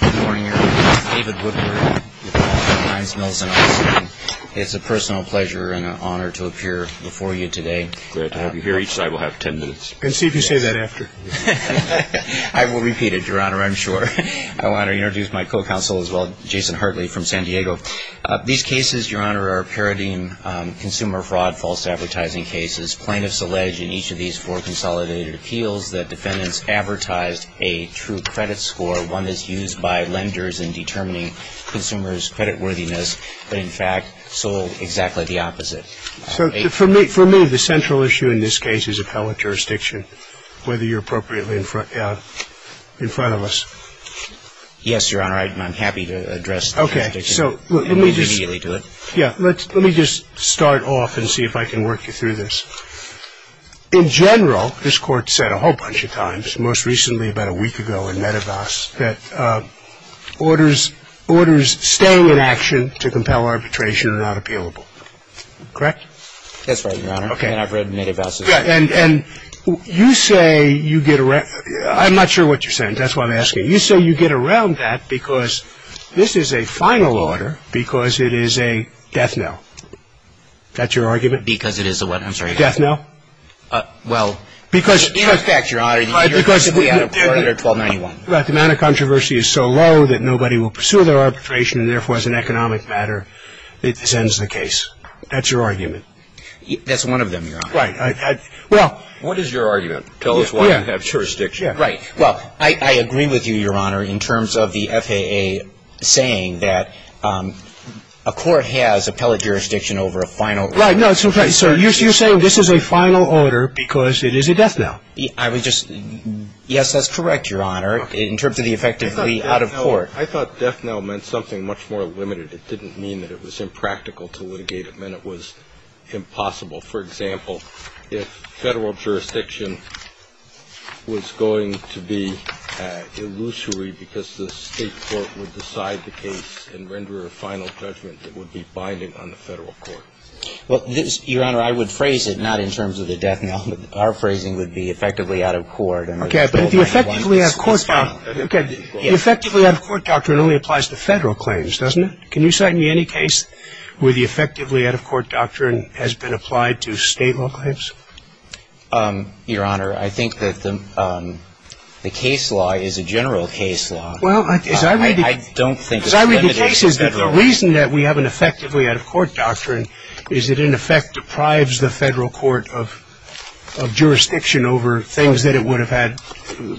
Good morning, Your Honor. This is David Woodward with the law firm, Heinz Mills, in Austin. It's a personal pleasure and an honor to appear before you today. Glad to have you here. Each side will have ten minutes. And see if you say that after. I will repeat it, Your Honor, I'm sure. I want to introduce my co-counsel as well, Jason Hartley from San Diego. These cases, Your Honor, are parodying consumer fraud, false advertising cases. As plaintiffs allege in each of these four consolidated appeals, the defendants advertised a true credit score, one that's used by lenders in determining consumers' creditworthiness, but in fact sold exactly the opposite. So for me, the central issue in this case is appellate jurisdiction, whether you're appropriately in front of us. Yes, Your Honor, I'm happy to address the jurisdiction. Okay. So let me just start off and see if I can work you through this. In general, this Court said a whole bunch of times, most recently about a week ago in Medivac, that orders staying in action to compel arbitration are not appealable. Correct? That's right, Your Honor. Okay. And I've read Medivac's argument. And you say you get around – I'm not sure what you're saying. That's why I'm asking. You say you get around that because this is a final order because it is a death knell. That's your argument? Because it is a what? I'm sorry. Because it is a death knell? Well, in effect, Your Honor, you're basically at order 1291. Right, because the amount of controversy is so low that nobody will pursue their arbitration and, therefore, as an economic matter, this ends the case. That's your argument. That's one of them, Your Honor. Right. Well – What is your argument? Tell us why you have jurisdiction. Right. Well, I agree with you, Your Honor, in terms of the FAA saying that a court has appellate jurisdiction over a final order. Right. So you're saying this is a final order because it is a death knell. Yes, that's correct, Your Honor, in terms of the effect of the out-of-court. I thought death knell meant something much more limited. It didn't mean that it was impractical to litigate. It meant it was impossible. For example, if federal jurisdiction was going to be illusory because the state court would decide the case and render a final judgment, it would be binding on the federal court. Well, Your Honor, I would phrase it not in terms of the death knell. Our phrasing would be effectively out-of-court. Okay, but the effectively out-of-court doctrine only applies to federal claims, doesn't it? Can you cite me any case where the effectively out-of-court doctrine has been applied to state law claims? Your Honor, I think that the case law is a general case law. Well, as I read the cases, the reason that we have an effectively out-of-court doctrine is it in effect deprives the federal court of jurisdiction over things that it would have had,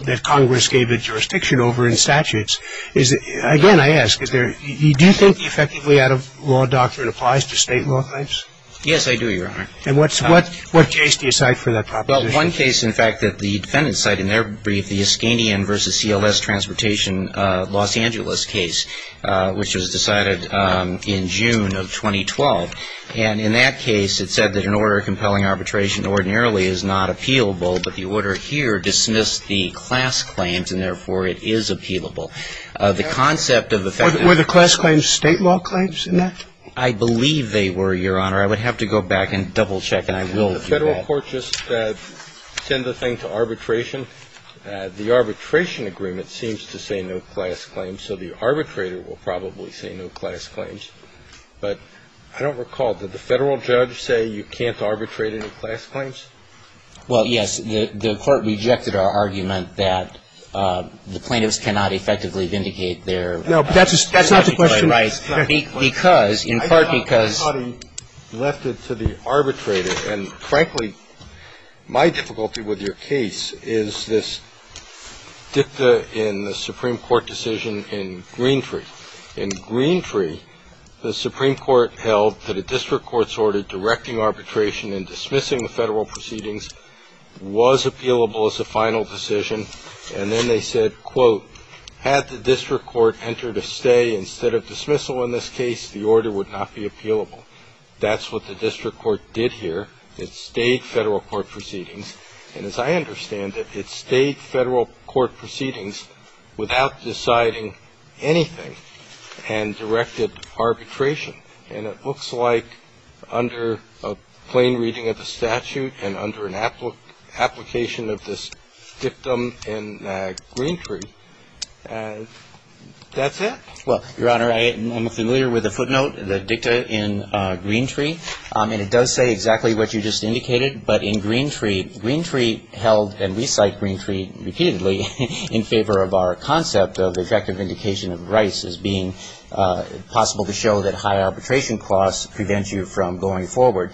that Congress gave it jurisdiction over in statutes. Again, I ask, do you think the effectively out-of-law doctrine applies to state law claims? Yes, I do, Your Honor. And what case do you cite for that proposition? Well, one case, in fact, that the defendant cited in their brief, the Iskanian v. CLS Transportation, Los Angeles case, which was decided in June of 2012. And in that case, it said that an order of compelling arbitration ordinarily is not appealable, but the order here dismissed the class claims, and therefore, it is appealable. The concept of effectively out-of-court. Were the class claims state law claims in that? I believe they were, Your Honor. I would have to go back and double-check, and I will do that. Didn't the federal court just send the thing to arbitration? The arbitration agreement seems to say no class claims, so the arbitrator will probably say no class claims. But I don't recall, did the federal judge say you can't arbitrate any class claims? Well, yes. The court rejected our argument that the plaintiffs cannot effectively vindicate their statutory rights. No, but that's not the question. Because, in part because the arbitrator. And frankly, my difficulty with your case is this dicta in the Supreme Court decision in Greentree. In Greentree, the Supreme Court held that a district court's order directing arbitration and dismissing the federal proceedings was appealable as a final decision. And then they said, quote, had the district court entered a stay instead of dismissal in this case, the order would not be appealable. That's what the district court did here. It stayed federal court proceedings. And as I understand it, it stayed federal court proceedings without deciding anything and directed arbitration. And it looks like under a plain reading of the statute and under an application of this dictum in Greentree, that's it. Well, Your Honor, I'm familiar with the footnote, the dicta in Greentree. And it does say exactly what you just indicated. But in Greentree, Greentree held and we cite Greentree repeatedly in favor of our concept of effective vindication of rights as being possible to show that high arbitration costs prevent you from going forward.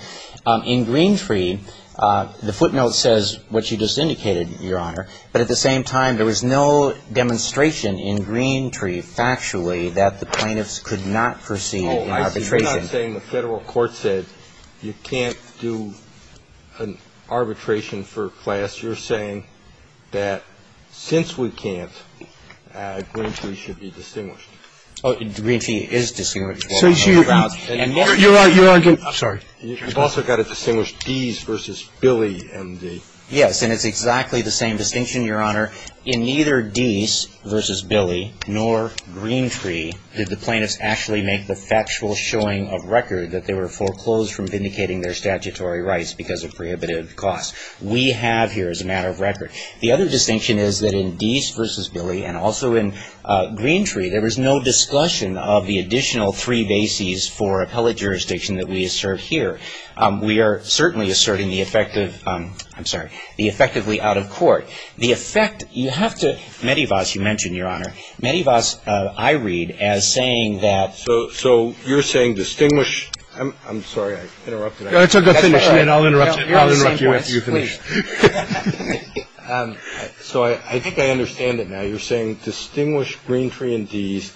In Greentree, the footnote says what you just indicated, Your Honor. But at the same time, there was no demonstration in Greentree factually that the plaintiffs could not proceed in arbitration. You're not saying the federal court said you can't do an arbitration for class. You're saying that since we can't, Greentree should be distinguished. Oh, Greentree is distinguished. So you're arguing, I'm sorry. You've also got to distinguish Deese versus Billy and the. Yes, and it's exactly the same distinction, Your Honor. In neither Deese versus Billy nor Greentree did the plaintiffs actually make the factual showing of record that they were foreclosed from vindicating their statutory rights because of prohibitive costs. We have here as a matter of record. The other distinction is that in Deese versus Billy and also in Greentree, there was no discussion of the additional three bases for appellate jurisdiction that we assert here. We are certainly asserting the effective, I'm sorry, the effectively out of court. The effect, you have to, Medivaz, you mentioned, Your Honor. Medivaz, I read as saying that. So you're saying distinguish. I'm sorry, I interrupted. That's all right. I'll interrupt you after you finish. So I think I understand it now. You're saying distinguish Greentree and Deese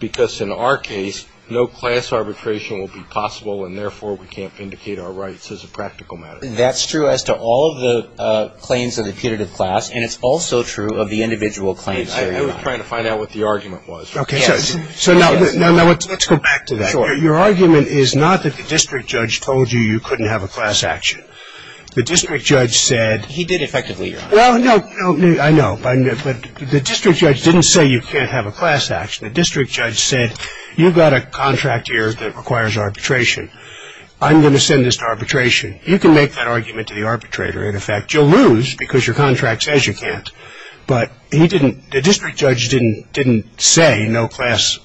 because in our case, no class arbitration will be possible, and therefore we can't vindicate our rights as a practical matter. That's true as to all of the claims of the punitive class, and it's also true of the individual claims here, Your Honor. I was trying to find out what the argument was. Okay. So now let's go back to that. Sure. Your argument is not that the district judge told you you couldn't have a class action. The district judge said. He did effectively, Your Honor. Well, no, I know. But the district judge didn't say you can't have a class action. The district judge said you've got a contract here that requires arbitration. I'm going to send this to arbitration. You can make that argument to the arbitrator. In effect, you'll lose because your contract says you can't. But the district judge didn't say no class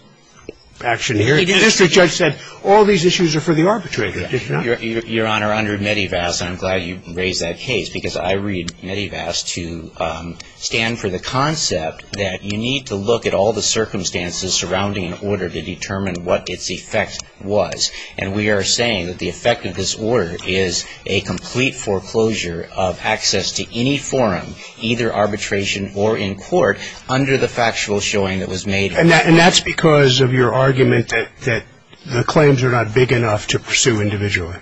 action here. The district judge said all these issues are for the arbitrator. Your Honor, under Medivac, I'm glad you raised that case because I read Medivac to stand for the concept that you need to look at all the circumstances surrounding an order to determine what its effect was. And we are saying that the effect of this order is a complete foreclosure of access to any forum, either arbitration or in court, under the factual showing that was made. And that's because of your argument that the claims are not big enough to pursue individually,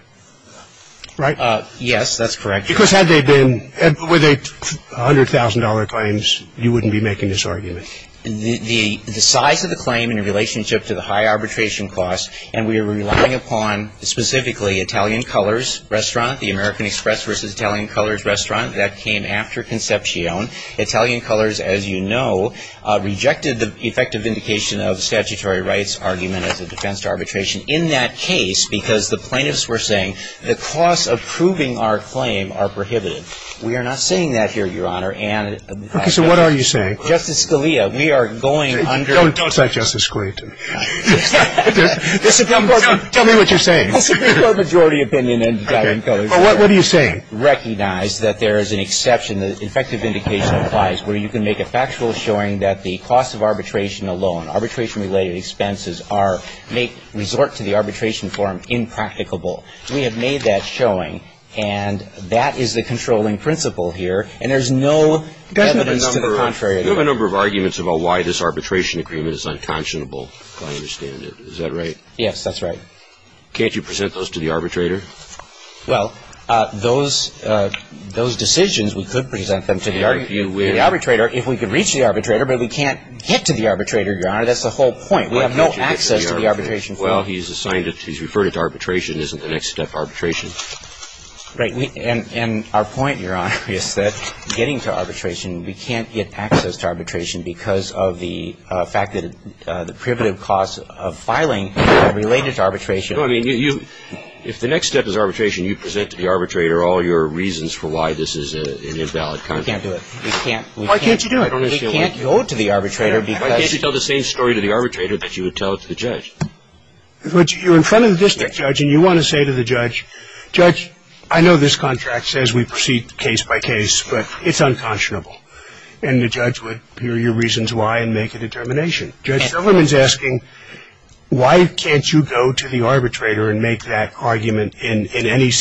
right? Yes, that's correct. Because had they been, were they $100,000 claims, you wouldn't be making this argument. The size of the claim in relationship to the high arbitration costs, and we are relying upon specifically Italian Colors Restaurant, the American Express versus Italian Colors Restaurant, that came after Concepcion. Italian Colors, as you know, rejected the effective indication of statutory rights argument as a defense to arbitration in that case because the plaintiffs were saying the costs of proving our claim are prohibitive. We are not saying that here, Your Honor. Okay. So what are you saying? Justice Scalia, we are going under the facts. Don't say Justice Scalia to me. Tell me what you're saying. Majority opinion in Italian Colors. Okay. But what are you saying? Recognize that there is an exception, the effective indication applies, where you can make a factual showing that the cost of arbitration alone, make resort to the arbitration form impracticable. We have made that showing, and that is the controlling principle here, and there's no evidence to the contrary. You have a number of arguments about why this arbitration agreement is unconscionable, if I understand it. Is that right? Yes, that's right. Can't you present those to the arbitrator? Well, those decisions, we could present them to the arbitrator if we could reach the arbitrator, but we can't get to the arbitrator, Your Honor. That's the whole point. We have no access to the arbitration form. Well, he's assigned it. He's referred it to arbitration. Isn't the next step arbitration? Right. And our point, Your Honor, is that getting to arbitration, we can't get access to arbitration because of the fact that the prerogative costs of filing are related to arbitration. No, I mean, you – if the next step is arbitration, you present to the arbitrator all your reasons for why this is an invalid contract. We can't do it. We can't. Why can't you do it? We can't go to the arbitrator because – Why can't you tell the same story to the arbitrator that you would tell to the judge? You're in front of the district judge, and you want to say to the judge, Judge, I know this contract says we proceed case by case, but it's unconscionable. And the judge would hear your reasons why and make a determination. Judge Silverman's asking, why can't you go to the arbitrator and make that argument in any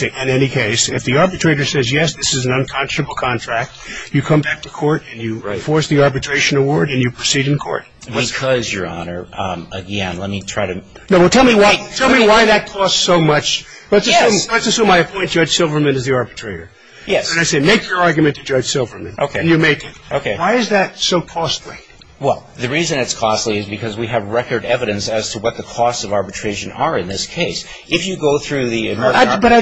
case? If the arbitrator says, yes, this is an unconscionable contract, you come back to court, and you enforce the arbitration award, and you proceed in court. Because, Your Honor, again, let me try to – No, well, tell me why that costs so much. Let's assume I appoint Judge Silverman as the arbitrator. Yes. And I say, make your argument to Judge Silverman. Okay. And you make it. Okay. Why is that so costly? Well, the reason it's costly is because we have record evidence as to what the costs of arbitration are in this case. If you go through the – But I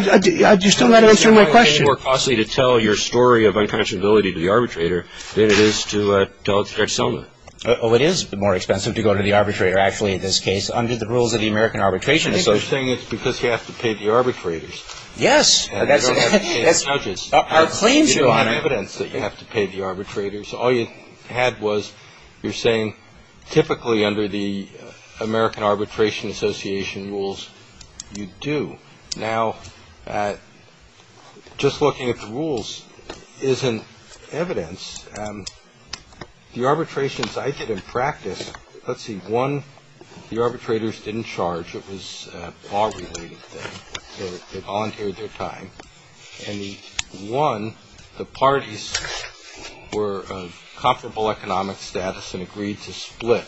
– you're still not answering my question. It's more costly to tell your story of unconscionability to the arbitrator than it is to tell it to Judge Silverman. Oh, it is more expensive to go to the arbitrator, actually, in this case, under the rules of the American Arbitration Association. I think you're saying it's because you have to pay the arbitrators. Yes. And you don't have to pay the judges. Our claims, Your Honor. There's a lot of evidence that you have to pay the arbitrators. All you had was – you're saying typically under the American Arbitration Association rules, you do. Now, just looking at the rules isn't evidence. The arbitrations I did in practice – let's see. One, the arbitrators didn't charge. It was a law-related thing. They volunteered their time. And one, the parties were of comparable economic status and agreed to split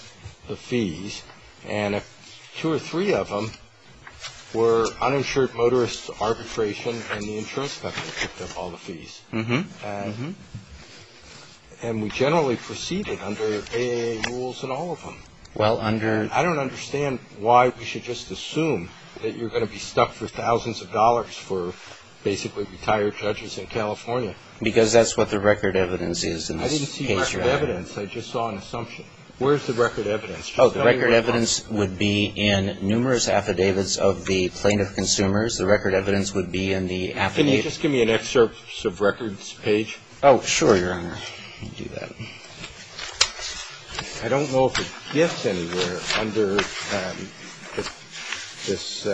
the fees. And two or three of them were uninsured motorist arbitration and the insurance company took up all the fees. And we generally proceeded under A.A. rules in all of them. Well, under – I don't understand why we should just assume that you're going to be stuck for thousands of dollars for basically retired judges in California. Because that's what the record evidence is in this case, Your Honor. I didn't see record evidence. I just saw an assumption. Where's the record evidence? Oh, the record evidence would be in numerous affidavits of the plaintiff-consumers. The record evidence would be in the affidavit. Can you just give me an excerpts of records page? Oh, sure, Your Honor. I can do that. I don't know if it gets anywhere under this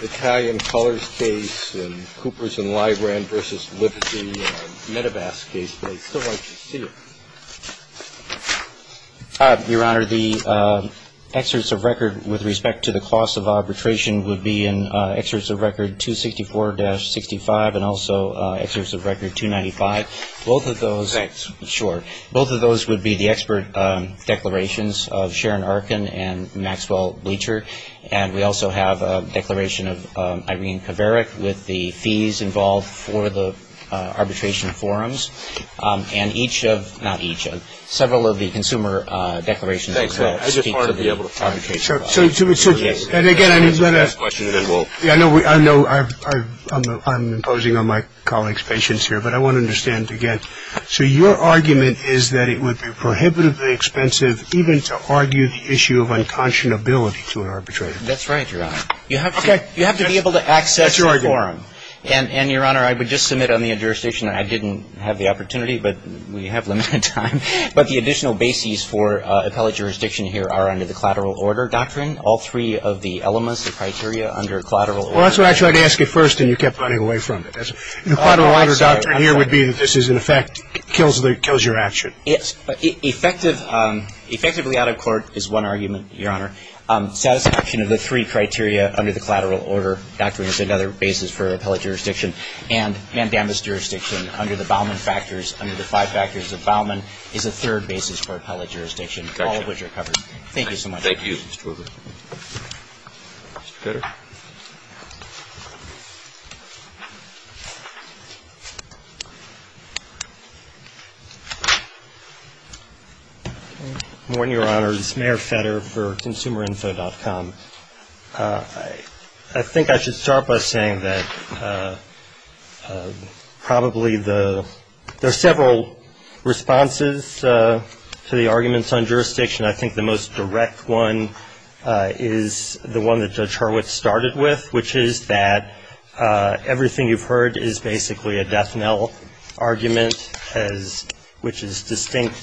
Italian Colors case and Coopers and Librand v. Liberty and Medivac case, but I'd still like to see it. Your Honor, the excerpts of record with respect to the cost of arbitration would be in excerpts of record 264-65 and also excerpts of record 295. Both of those – Thanks. Sure. Both of those would be the expert declarations of Sharon Arkin and Maxwell Bleacher. And we also have a declaration of Irene Kovarik with the fees involved for the arbitration forums. And each of – not each of – several of the consumer declarations would speak to the arbitration forum. Thanks. I just want to be able to comment on that. Yes. And again, I'm going to – I know I'm imposing on my colleague's patience here, but I want to understand again. So your argument is that it would be prohibitively expensive even to argue the issue of unconscionability to an arbitrator. That's right, Your Honor. Okay. You have to be able to access the forum. That's your argument. And, Your Honor, I would just submit on the injurisdiction that I didn't have the opportunity, but we have limited time. But the additional bases for appellate jurisdiction here are under the collateral order doctrine. All three of the elements, the criteria under collateral order – Well, that's what I tried to ask you first, and you kept running away from it. The collateral order doctrine here would be that this is, in effect, kills your action. Effectively out of court is one argument, Your Honor. Satisfaction of the three criteria under the collateral order doctrine is another basis for appellate jurisdiction. And Mandamma's jurisdiction under the Bauman factors, under the five factors of Bauman, is a third basis for appellate jurisdiction. Gotcha. All of which are covered. Thank you so much. Mr. Kutter. Good morning, Your Honor. This is Mayor Fetter for ConsumerInfo.com. I think I should start by saying that probably the – there are several responses to the arguments on jurisdiction. I think the most direct one is the one that Judge Horwitz cited. which is that everything you've heard is basically a death knell argument, which is distinct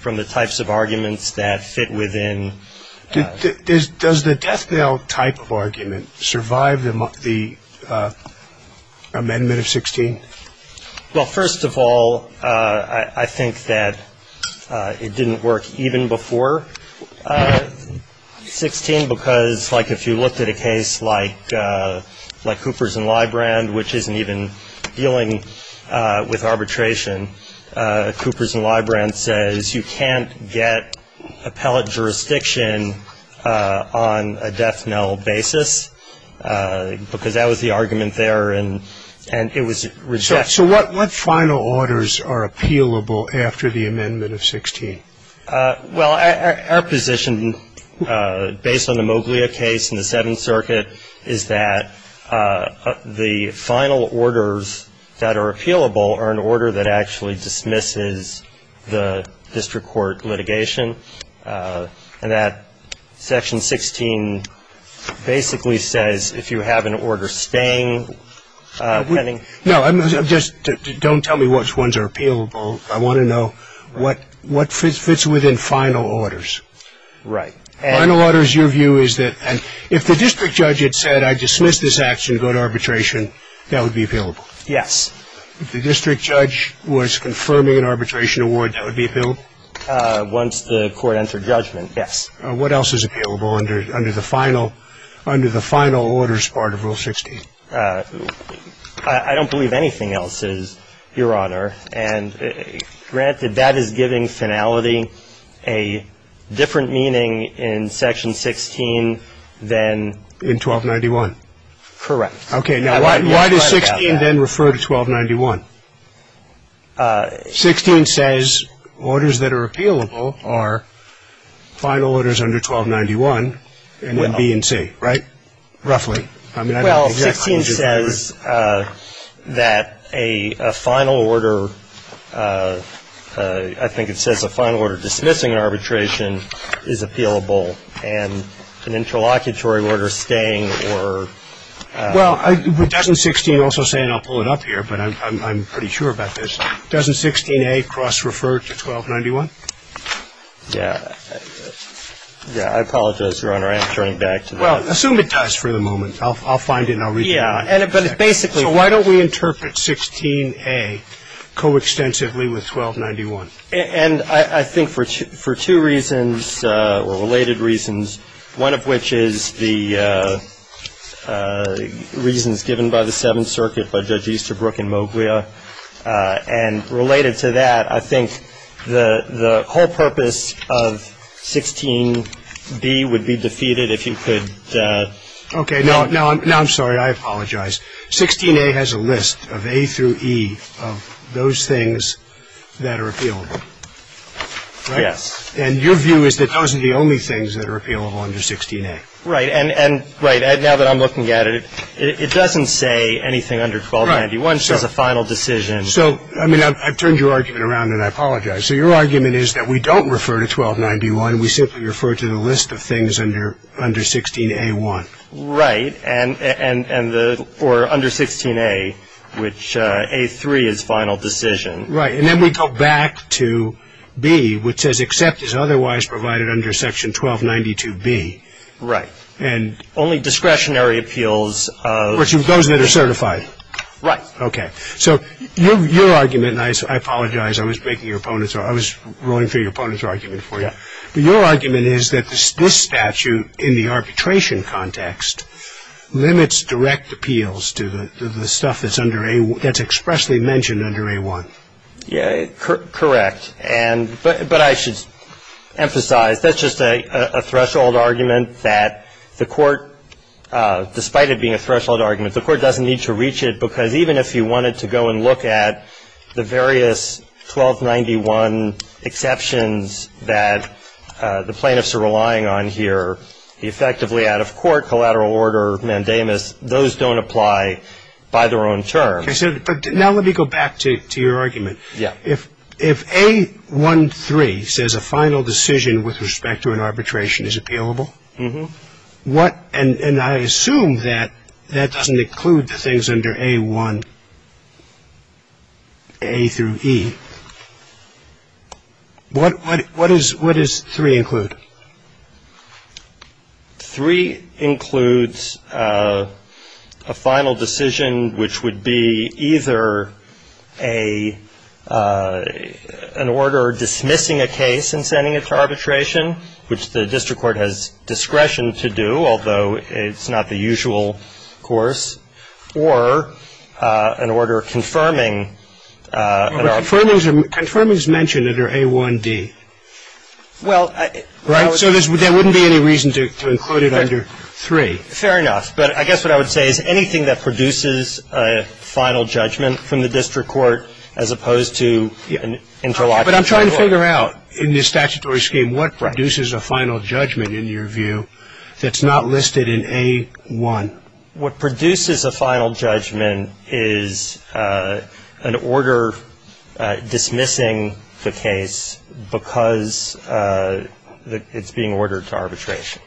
from the types of arguments that fit within – Does the death knell type of argument survive the amendment of 16? Well, first of all, I think that it didn't work even before 16, because like if you looked at a case like Cooper's and Librand, which isn't even dealing with arbitration, Cooper's and Librand says you can't get appellate jurisdiction on a death knell basis, because that was the argument there, and it was rejected. So what final orders are appealable after the amendment of 16? Well, our position, based on the Moglia case in the Seventh Circuit, is that the final orders that are appealable are an order that actually dismisses the district court litigation, and that Section 16 basically says if you have an order staying pending – No, just don't tell me which ones are appealable. I want to know what fits within final orders. Right. Final orders, your view is that if the district judge had said I dismiss this action, go to arbitration, that would be appealable? Yes. If the district judge was confirming an arbitration award, that would be appealable? Once the court entered judgment, yes. What else is appealable under the final orders part of Rule 16? I don't believe anything else is, Your Honor. And granted, that is giving finality a different meaning in Section 16 than in 1291. Correct. Okay. Now, why does 16 then refer to 1291? 16 says orders that are appealable are final orders under 1291 and then B and C, right? Roughly. Well, 16 says that a final order – I think it says a final order dismissing an arbitration is appealable, and an interlocutory order staying or – Well, doesn't 16 also say – and I'll pull it up here, but I'm pretty sure about this – doesn't 16A cross-refer to 1291? Yeah, I apologize, Your Honor. I am turning back to that. Well, assume it does for the moment. I'll find it and I'll read it to you. Yeah, but it's basically – So why don't we interpret 16A coextensively with 1291? And I think for two reasons, or related reasons, one of which is the reasons given by the Seventh Circuit by Judge Easterbrook and Moglia, and related to that, I think the whole purpose of 16B would be defeated if you could – Okay. Now I'm sorry. I apologize. 16A has a list of A through E of those things that are appealable, right? Yes. And your view is that those are the only things that are appealable under 16A. Right. And now that I'm looking at it, it doesn't say anything under 1291. Right. It says a final decision. So, I mean, I've turned your argument around and I apologize. So your argument is that we don't refer to 1291. We simply refer to the list of things under 16A1. Right. And the – or under 16A, which A3 is final decision. Right. And then we go back to B, which says except is otherwise provided under section 1292B. Right. And – Only discretionary appeals of – Those that are certified. Right. Okay. So your argument – and I apologize. I was making your opponent's – I was rolling through your opponent's argument for you. Yeah. But your argument is that this statute in the arbitration context limits direct appeals to the stuff that's under – that's expressly mentioned under A1. Yeah. Correct. And – but I should emphasize that's just a threshold argument that the Court, despite it being a threshold argument, the Court doesn't need to reach it because even if you wanted to go and look at the various 1291 exceptions that the plaintiffs are relying on here, effectively out of court, collateral order, mandamus, those don't apply by their own terms. Okay. So – but now let me go back to your argument. Yeah. If A13 says a final decision with respect to an arbitration is appealable, what – and I assume that that doesn't include things under A1, A through E. What does 3 include? 3 includes a final decision which would be either an order dismissing a case and sending it to court, which is not the usual course, or an order confirming – Confirming is mentioned under A1D. Well, I – Right? So there wouldn't be any reason to include it under 3. Fair enough. But I guess what I would say is anything that produces a final judgment from the district court as opposed to an interlocking – But I'm trying to figure out in the statutory scheme what produces a final judgment, in your view, that's not listed in A1. What produces a final judgment is an order dismissing the case because it's being ordered to arbitration,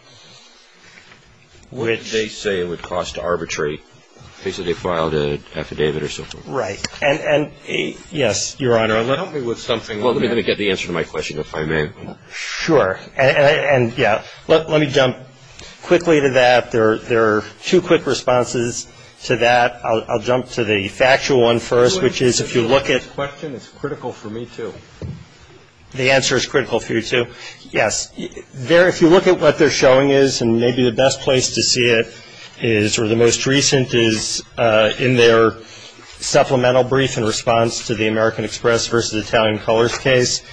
which – They say it would cost to arbitrate in case that they filed an affidavit or so forth. Right. And, yes, Your Honor, let me – Help me with something. Well, let me get the answer to my question, if I may. Sure. And, yeah. Let me jump quickly to that. There are two quick responses to that. I'll jump to the factual one first, which is if you look at – Wait a second. This question is critical for me, too. The answer is critical for you, too? Yes. If you look at what they're showing is, and maybe the best place to see it is – or the most recent is in their supplemental brief in response to the American Express versus Italian Colors case.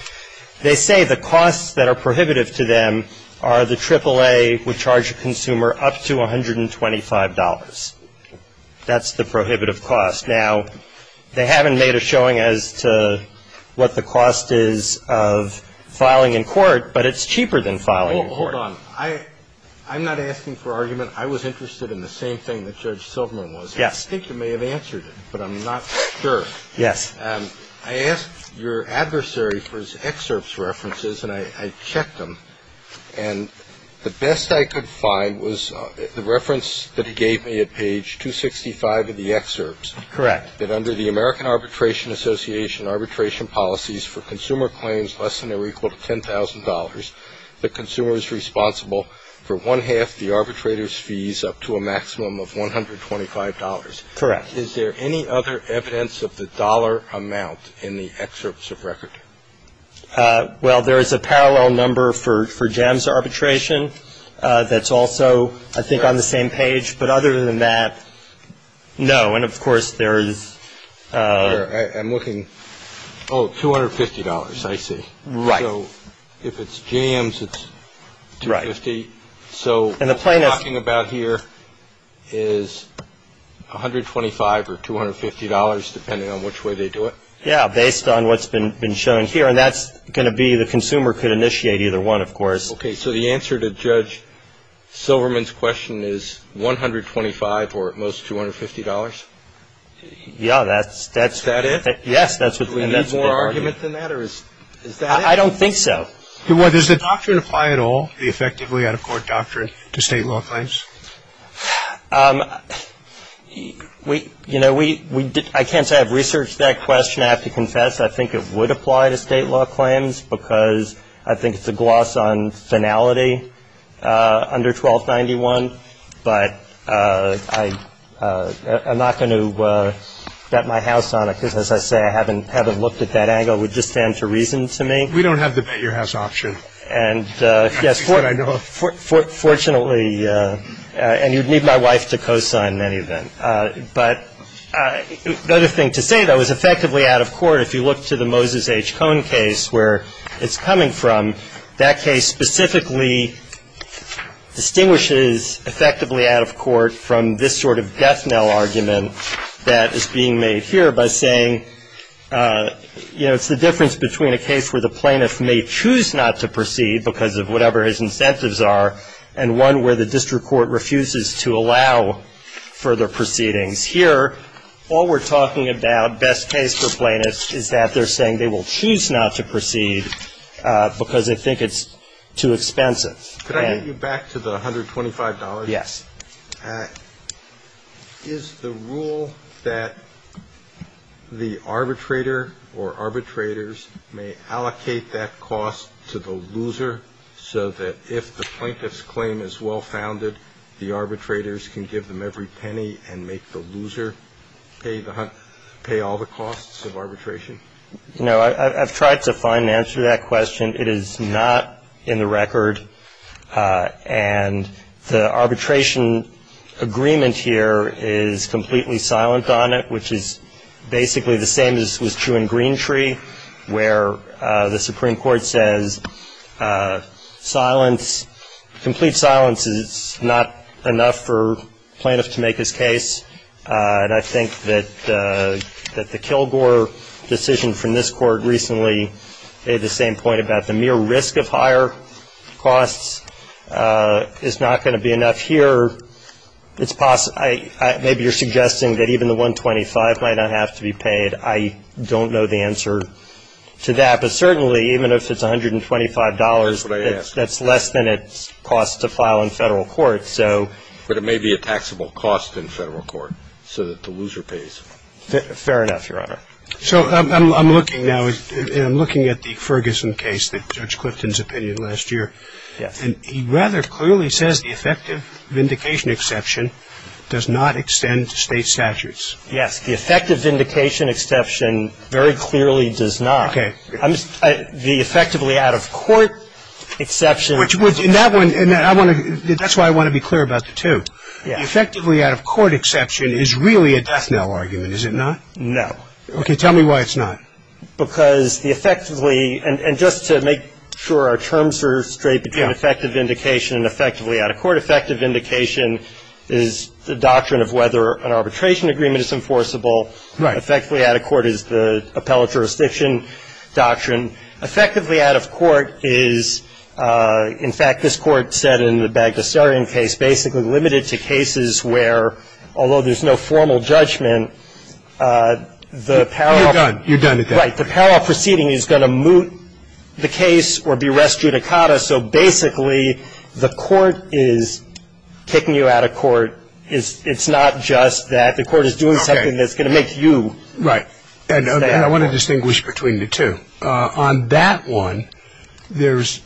They say the costs that are prohibitive to them are the AAA would charge a consumer up to $125. That's the prohibitive cost. Now, they haven't made a showing as to what the cost is of filing in court, but it's cheaper than filing in court. Well, hold on. I'm not asking for argument. I was interested in the same thing that Judge Silverman was. Yes. I think you may have answered it, but I'm not sure. Yes. I asked your adversary for his excerpts references, and I checked them, and the best I could find was the reference that he gave me at page 265 of the excerpts. Correct. That under the American Arbitration Association arbitration policies for consumer claims less than or equal to $10,000, the consumer is responsible for one-half the arbitrator's fees up to a maximum of $125. Correct. Is there any other evidence of the dollar amount in the excerpts of record? Well, there is a parallel number for JAMS arbitration that's also, I think, on the same page. But other than that, no. And, of course, there is. I'm looking. Oh, $250, I see. Right. So if it's JAMS, it's $250. Right. So what we're talking about here is $125 or $250, depending on which way they do it? Yeah, based on what's been shown here. And that's going to be the consumer could initiate either one, of course. Okay. So the answer to Judge Silverman's question is $125 or, at most, $250? Yeah, that's the argument. Is that it? Yes, that's the argument. Do we need more argument than that, or is that it? I don't think so. Does the doctrine apply at all, the effectively out-of-court doctrine, to state law claims? You know, I can't say I've researched that question, I have to confess. I think it would apply to state law claims because I think it's a gloss on finality under 1291. But I'm not going to bet my house on it because, as I say, I haven't looked at that angle. It would just stand to reason to me. We don't have the bet your house option. And, yes, fortunately, and you'd need my wife to cosign any of that. But the other thing to say, though, is effectively out-of-court, if you look to the Moses H. Cohn case, where it's coming from, that case specifically distinguishes effectively out-of-court from this sort of death knell argument that is being made here by saying, you know, what's the difference between a case where the plaintiff may choose not to proceed because of whatever his incentives are and one where the district court refuses to allow further proceedings? Here, all we're talking about, best case for plaintiffs, is that they're saying they will choose not to proceed because they think it's too expensive. Could I get you back to the $125? Yes. Is the rule that the arbitrator or arbitrators may allocate that cost to the loser so that if the plaintiff's claim is well-founded, the arbitrators can give them every penny and make the loser pay all the costs of arbitration? No. I've tried to find an answer to that question. It is not in the record. And the arbitration agreement here is completely silent on it, which is basically the same as was true in Greentree, where the Supreme Court says silence, complete silence is not enough for a plaintiff to make his case. And I think that the Kilgore decision from this court recently, they had the same point about the mere risk of higher costs is not going to be enough. Here, maybe you're suggesting that even the $125 might not have to be paid. I don't know the answer to that. But certainly, even if it's $125, that's less than it costs to file in federal court. But it may be a taxable cost in federal court so that the loser pays. Fair enough, Your Honor. So I'm looking now, and I'm looking at the Ferguson case that Judge Clifton's opinion last year. Yes. And he rather clearly says the effective vindication exception does not extend to state statutes. Yes. The effective vindication exception very clearly does not. Okay. The effectively out-of-court exception. And that's why I want to be clear about the two. The effectively out-of-court exception is really a death knell argument, is it not? No. Okay. Tell me why it's not. Because the effectively, and just to make sure our terms are straight between effective vindication and effectively out-of-court. Effective vindication is the doctrine of whether an arbitration agreement is enforceable. Right. Effectively out-of-court is the appellate jurisdiction doctrine. Effectively out-of-court is, in fact, this Court said in the Bagdasarian case, it's basically limited to cases where, although there's no formal judgment, the parallel. You're done. You're done with that. Right. The parallel proceeding is going to moot the case or be res judicata. So basically the Court is kicking you out of court. It's not just that. The Court is doing something that's going to make you. Right. And I want to distinguish between the two. On that one, there's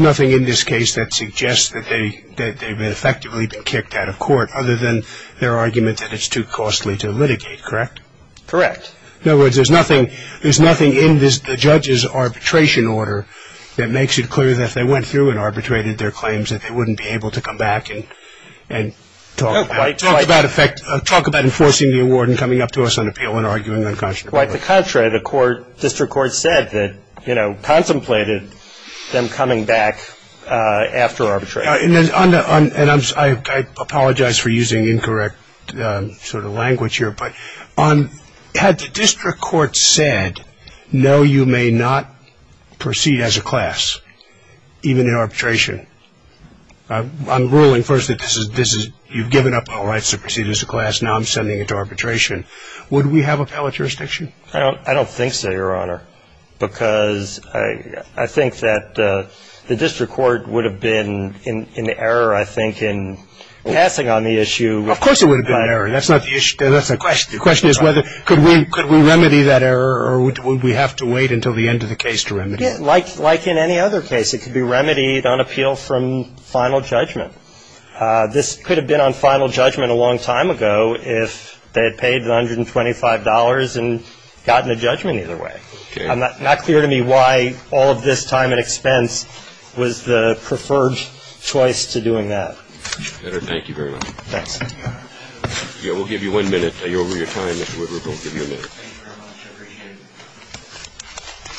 nothing in this case that suggests that they've effectively been kicked out of court, other than their argument that it's too costly to litigate, correct? Correct. In other words, there's nothing in the judge's arbitration order that makes it clear that if they went through and arbitrated their claims that they wouldn't be able to come back and talk about enforcing the award and coming up to us on appeal and arguing unconscionably. Quite the contrary. The District Court said that, you know, contemplated them coming back after arbitration. And I apologize for using incorrect sort of language here, but had the District Court said, no, you may not proceed as a class, even in arbitration. I'm ruling first that you've given up all rights to proceed as a class. Now I'm sending it to arbitration. Would we have appellate jurisdiction? I don't think so, Your Honor, because I think that the District Court would have been in the error, I think, in passing on the issue. Of course it would have been an error. That's not the issue. That's the question. The question is whether could we remedy that error or would we have to wait until the end of the case to remedy it? Like in any other case, it could be remedied on appeal from final judgment. This could have been on final judgment a long time ago if they had paid $125 and gotten a judgment either way. Okay. I'm not clear to me why all of this time and expense was the preferred choice to doing that. Your Honor, thank you very much. Thanks. We'll give you one minute. Are you over your time, Mr. Woodruff? We'll give you a minute. Thank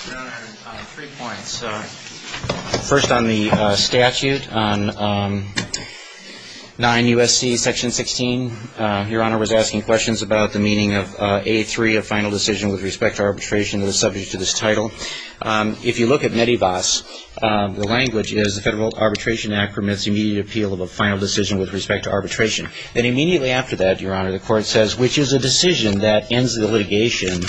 you very much. I appreciate it. Your Honor, three points. First on the statute, on 9 U.S.C. Section 16, Your Honor was asking questions about the meaning of A3, a final decision with respect to arbitration that is subject to this title. If you look at MEDEVAS, the language is the Federal Arbitration Act permits immediate appeal of a final decision with respect to arbitration. Then immediately after that, Your Honor, the court says, which is a decision that ends the litigation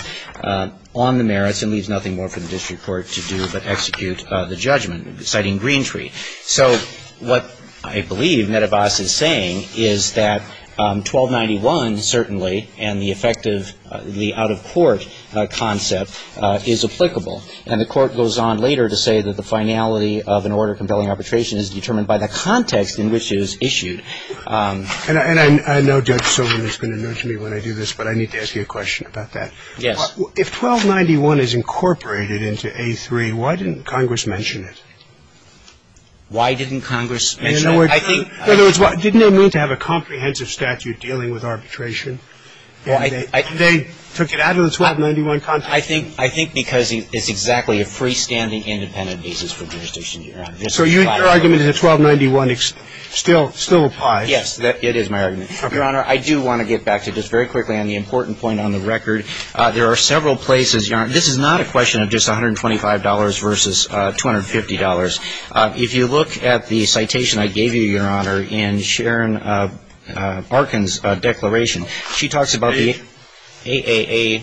on the merits and leaves nothing more for the district court to do but execute the judgment, citing Green Tree. So what I believe MEDEVAS is saying is that 1291 certainly and the effect of the out-of-court concept is applicable. And the court goes on later to say that the finality of an order compelling arbitration is determined by the context in which it is issued. And I know Judge Silverman is going to nudge me when I do this, but I need to ask you a question about that. Yes. If 1291 is incorporated into A3, why didn't Congress mention it? Why didn't Congress mention it? In other words, didn't they mean to have a comprehensive statute dealing with arbitration? They took it out of the 1291 context. I think because it's exactly a freestanding independent basis for jurisdiction, Your Honor. So your argument is that 1291 still applies? Yes. It is my argument. Your Honor, I do want to get back to just very quickly on the important point on the record. There are several places, Your Honor. This is not a question of just $125 versus $250. If you look at the citation I gave you, Your Honor, in Sharon Arkin's declaration, she talks about the AAA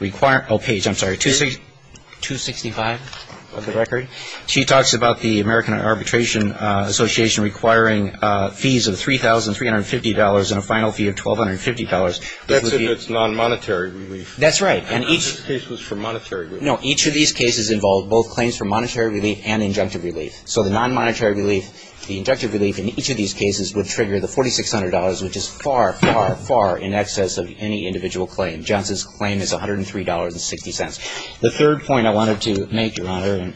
requirement. Oh, page, I'm sorry, 265 of the record. She talks about the American Arbitration Association requiring fees of $3,350 and a final fee of $1,250. That's if it's nonmonetary relief. That's right. And each of these cases involved both claims for monetary relief and injunctive relief. So the nonmonetary relief, the injunctive relief in each of these cases would trigger the $4,600, which is far, far, far in excess of any individual claim. Johnson's claim is $103.60. The third point I wanted to make, Your Honor,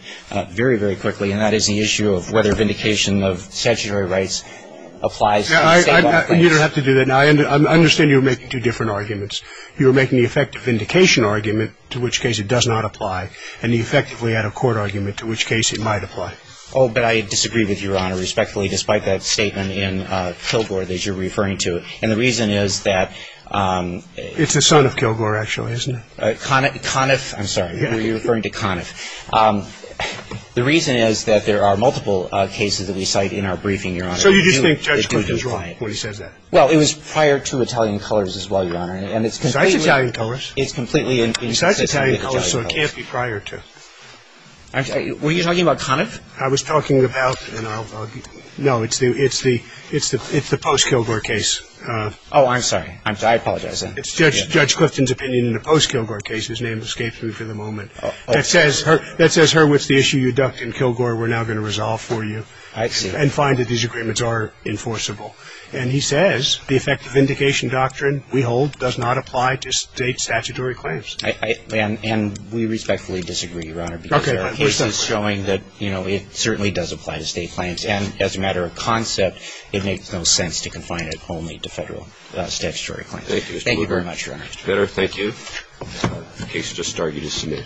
very, very quickly, and that is the issue of whether vindication of statutory rights applies to the same law. You don't have to do that now. I understand you were making two different arguments. You were making the effective vindication argument, to which case it does not apply, and the effectively out-of-court argument, to which case it might apply. Oh, but I disagree with you, Your Honor, respectfully, despite that statement in Kilgore that you're referring to. And the reason is that — It's the son of Kilgore, actually, isn't it? Conniff. I'm sorry. You're referring to Conniff. The reason is that there are multiple cases that we cite in our briefing, Your Honor. So you just think Judge Clifton's wrong when he says that? Well, it was prior to Italian Colors as well, Your Honor. Besides Italian Colors? It's completely inconsistent with Italian Colors. Besides Italian Colors, so it can't be prior to. Were you talking about Conniff? I was talking about — no, it's the post-Kilgore case. Oh, I'm sorry. I apologize. It's Judge Clifton's opinion in the post-Kilgore case. His name escaped me for the moment. That says, Hurwitz, the issue you ducked in Kilgore we're now going to resolve for you. I see. And find that these agreements are enforceable. And he says the effective vindication doctrine we hold does not apply to State statutory claims. And we respectfully disagree, Your Honor, because there are cases showing that, you know, it certainly does apply to State claims. And as a matter of concept, it makes no sense to confine it only to Federal statutory claims. Thank you. Thank you very much, Your Honor. It's better. Thank you. The case has just started. You just submit.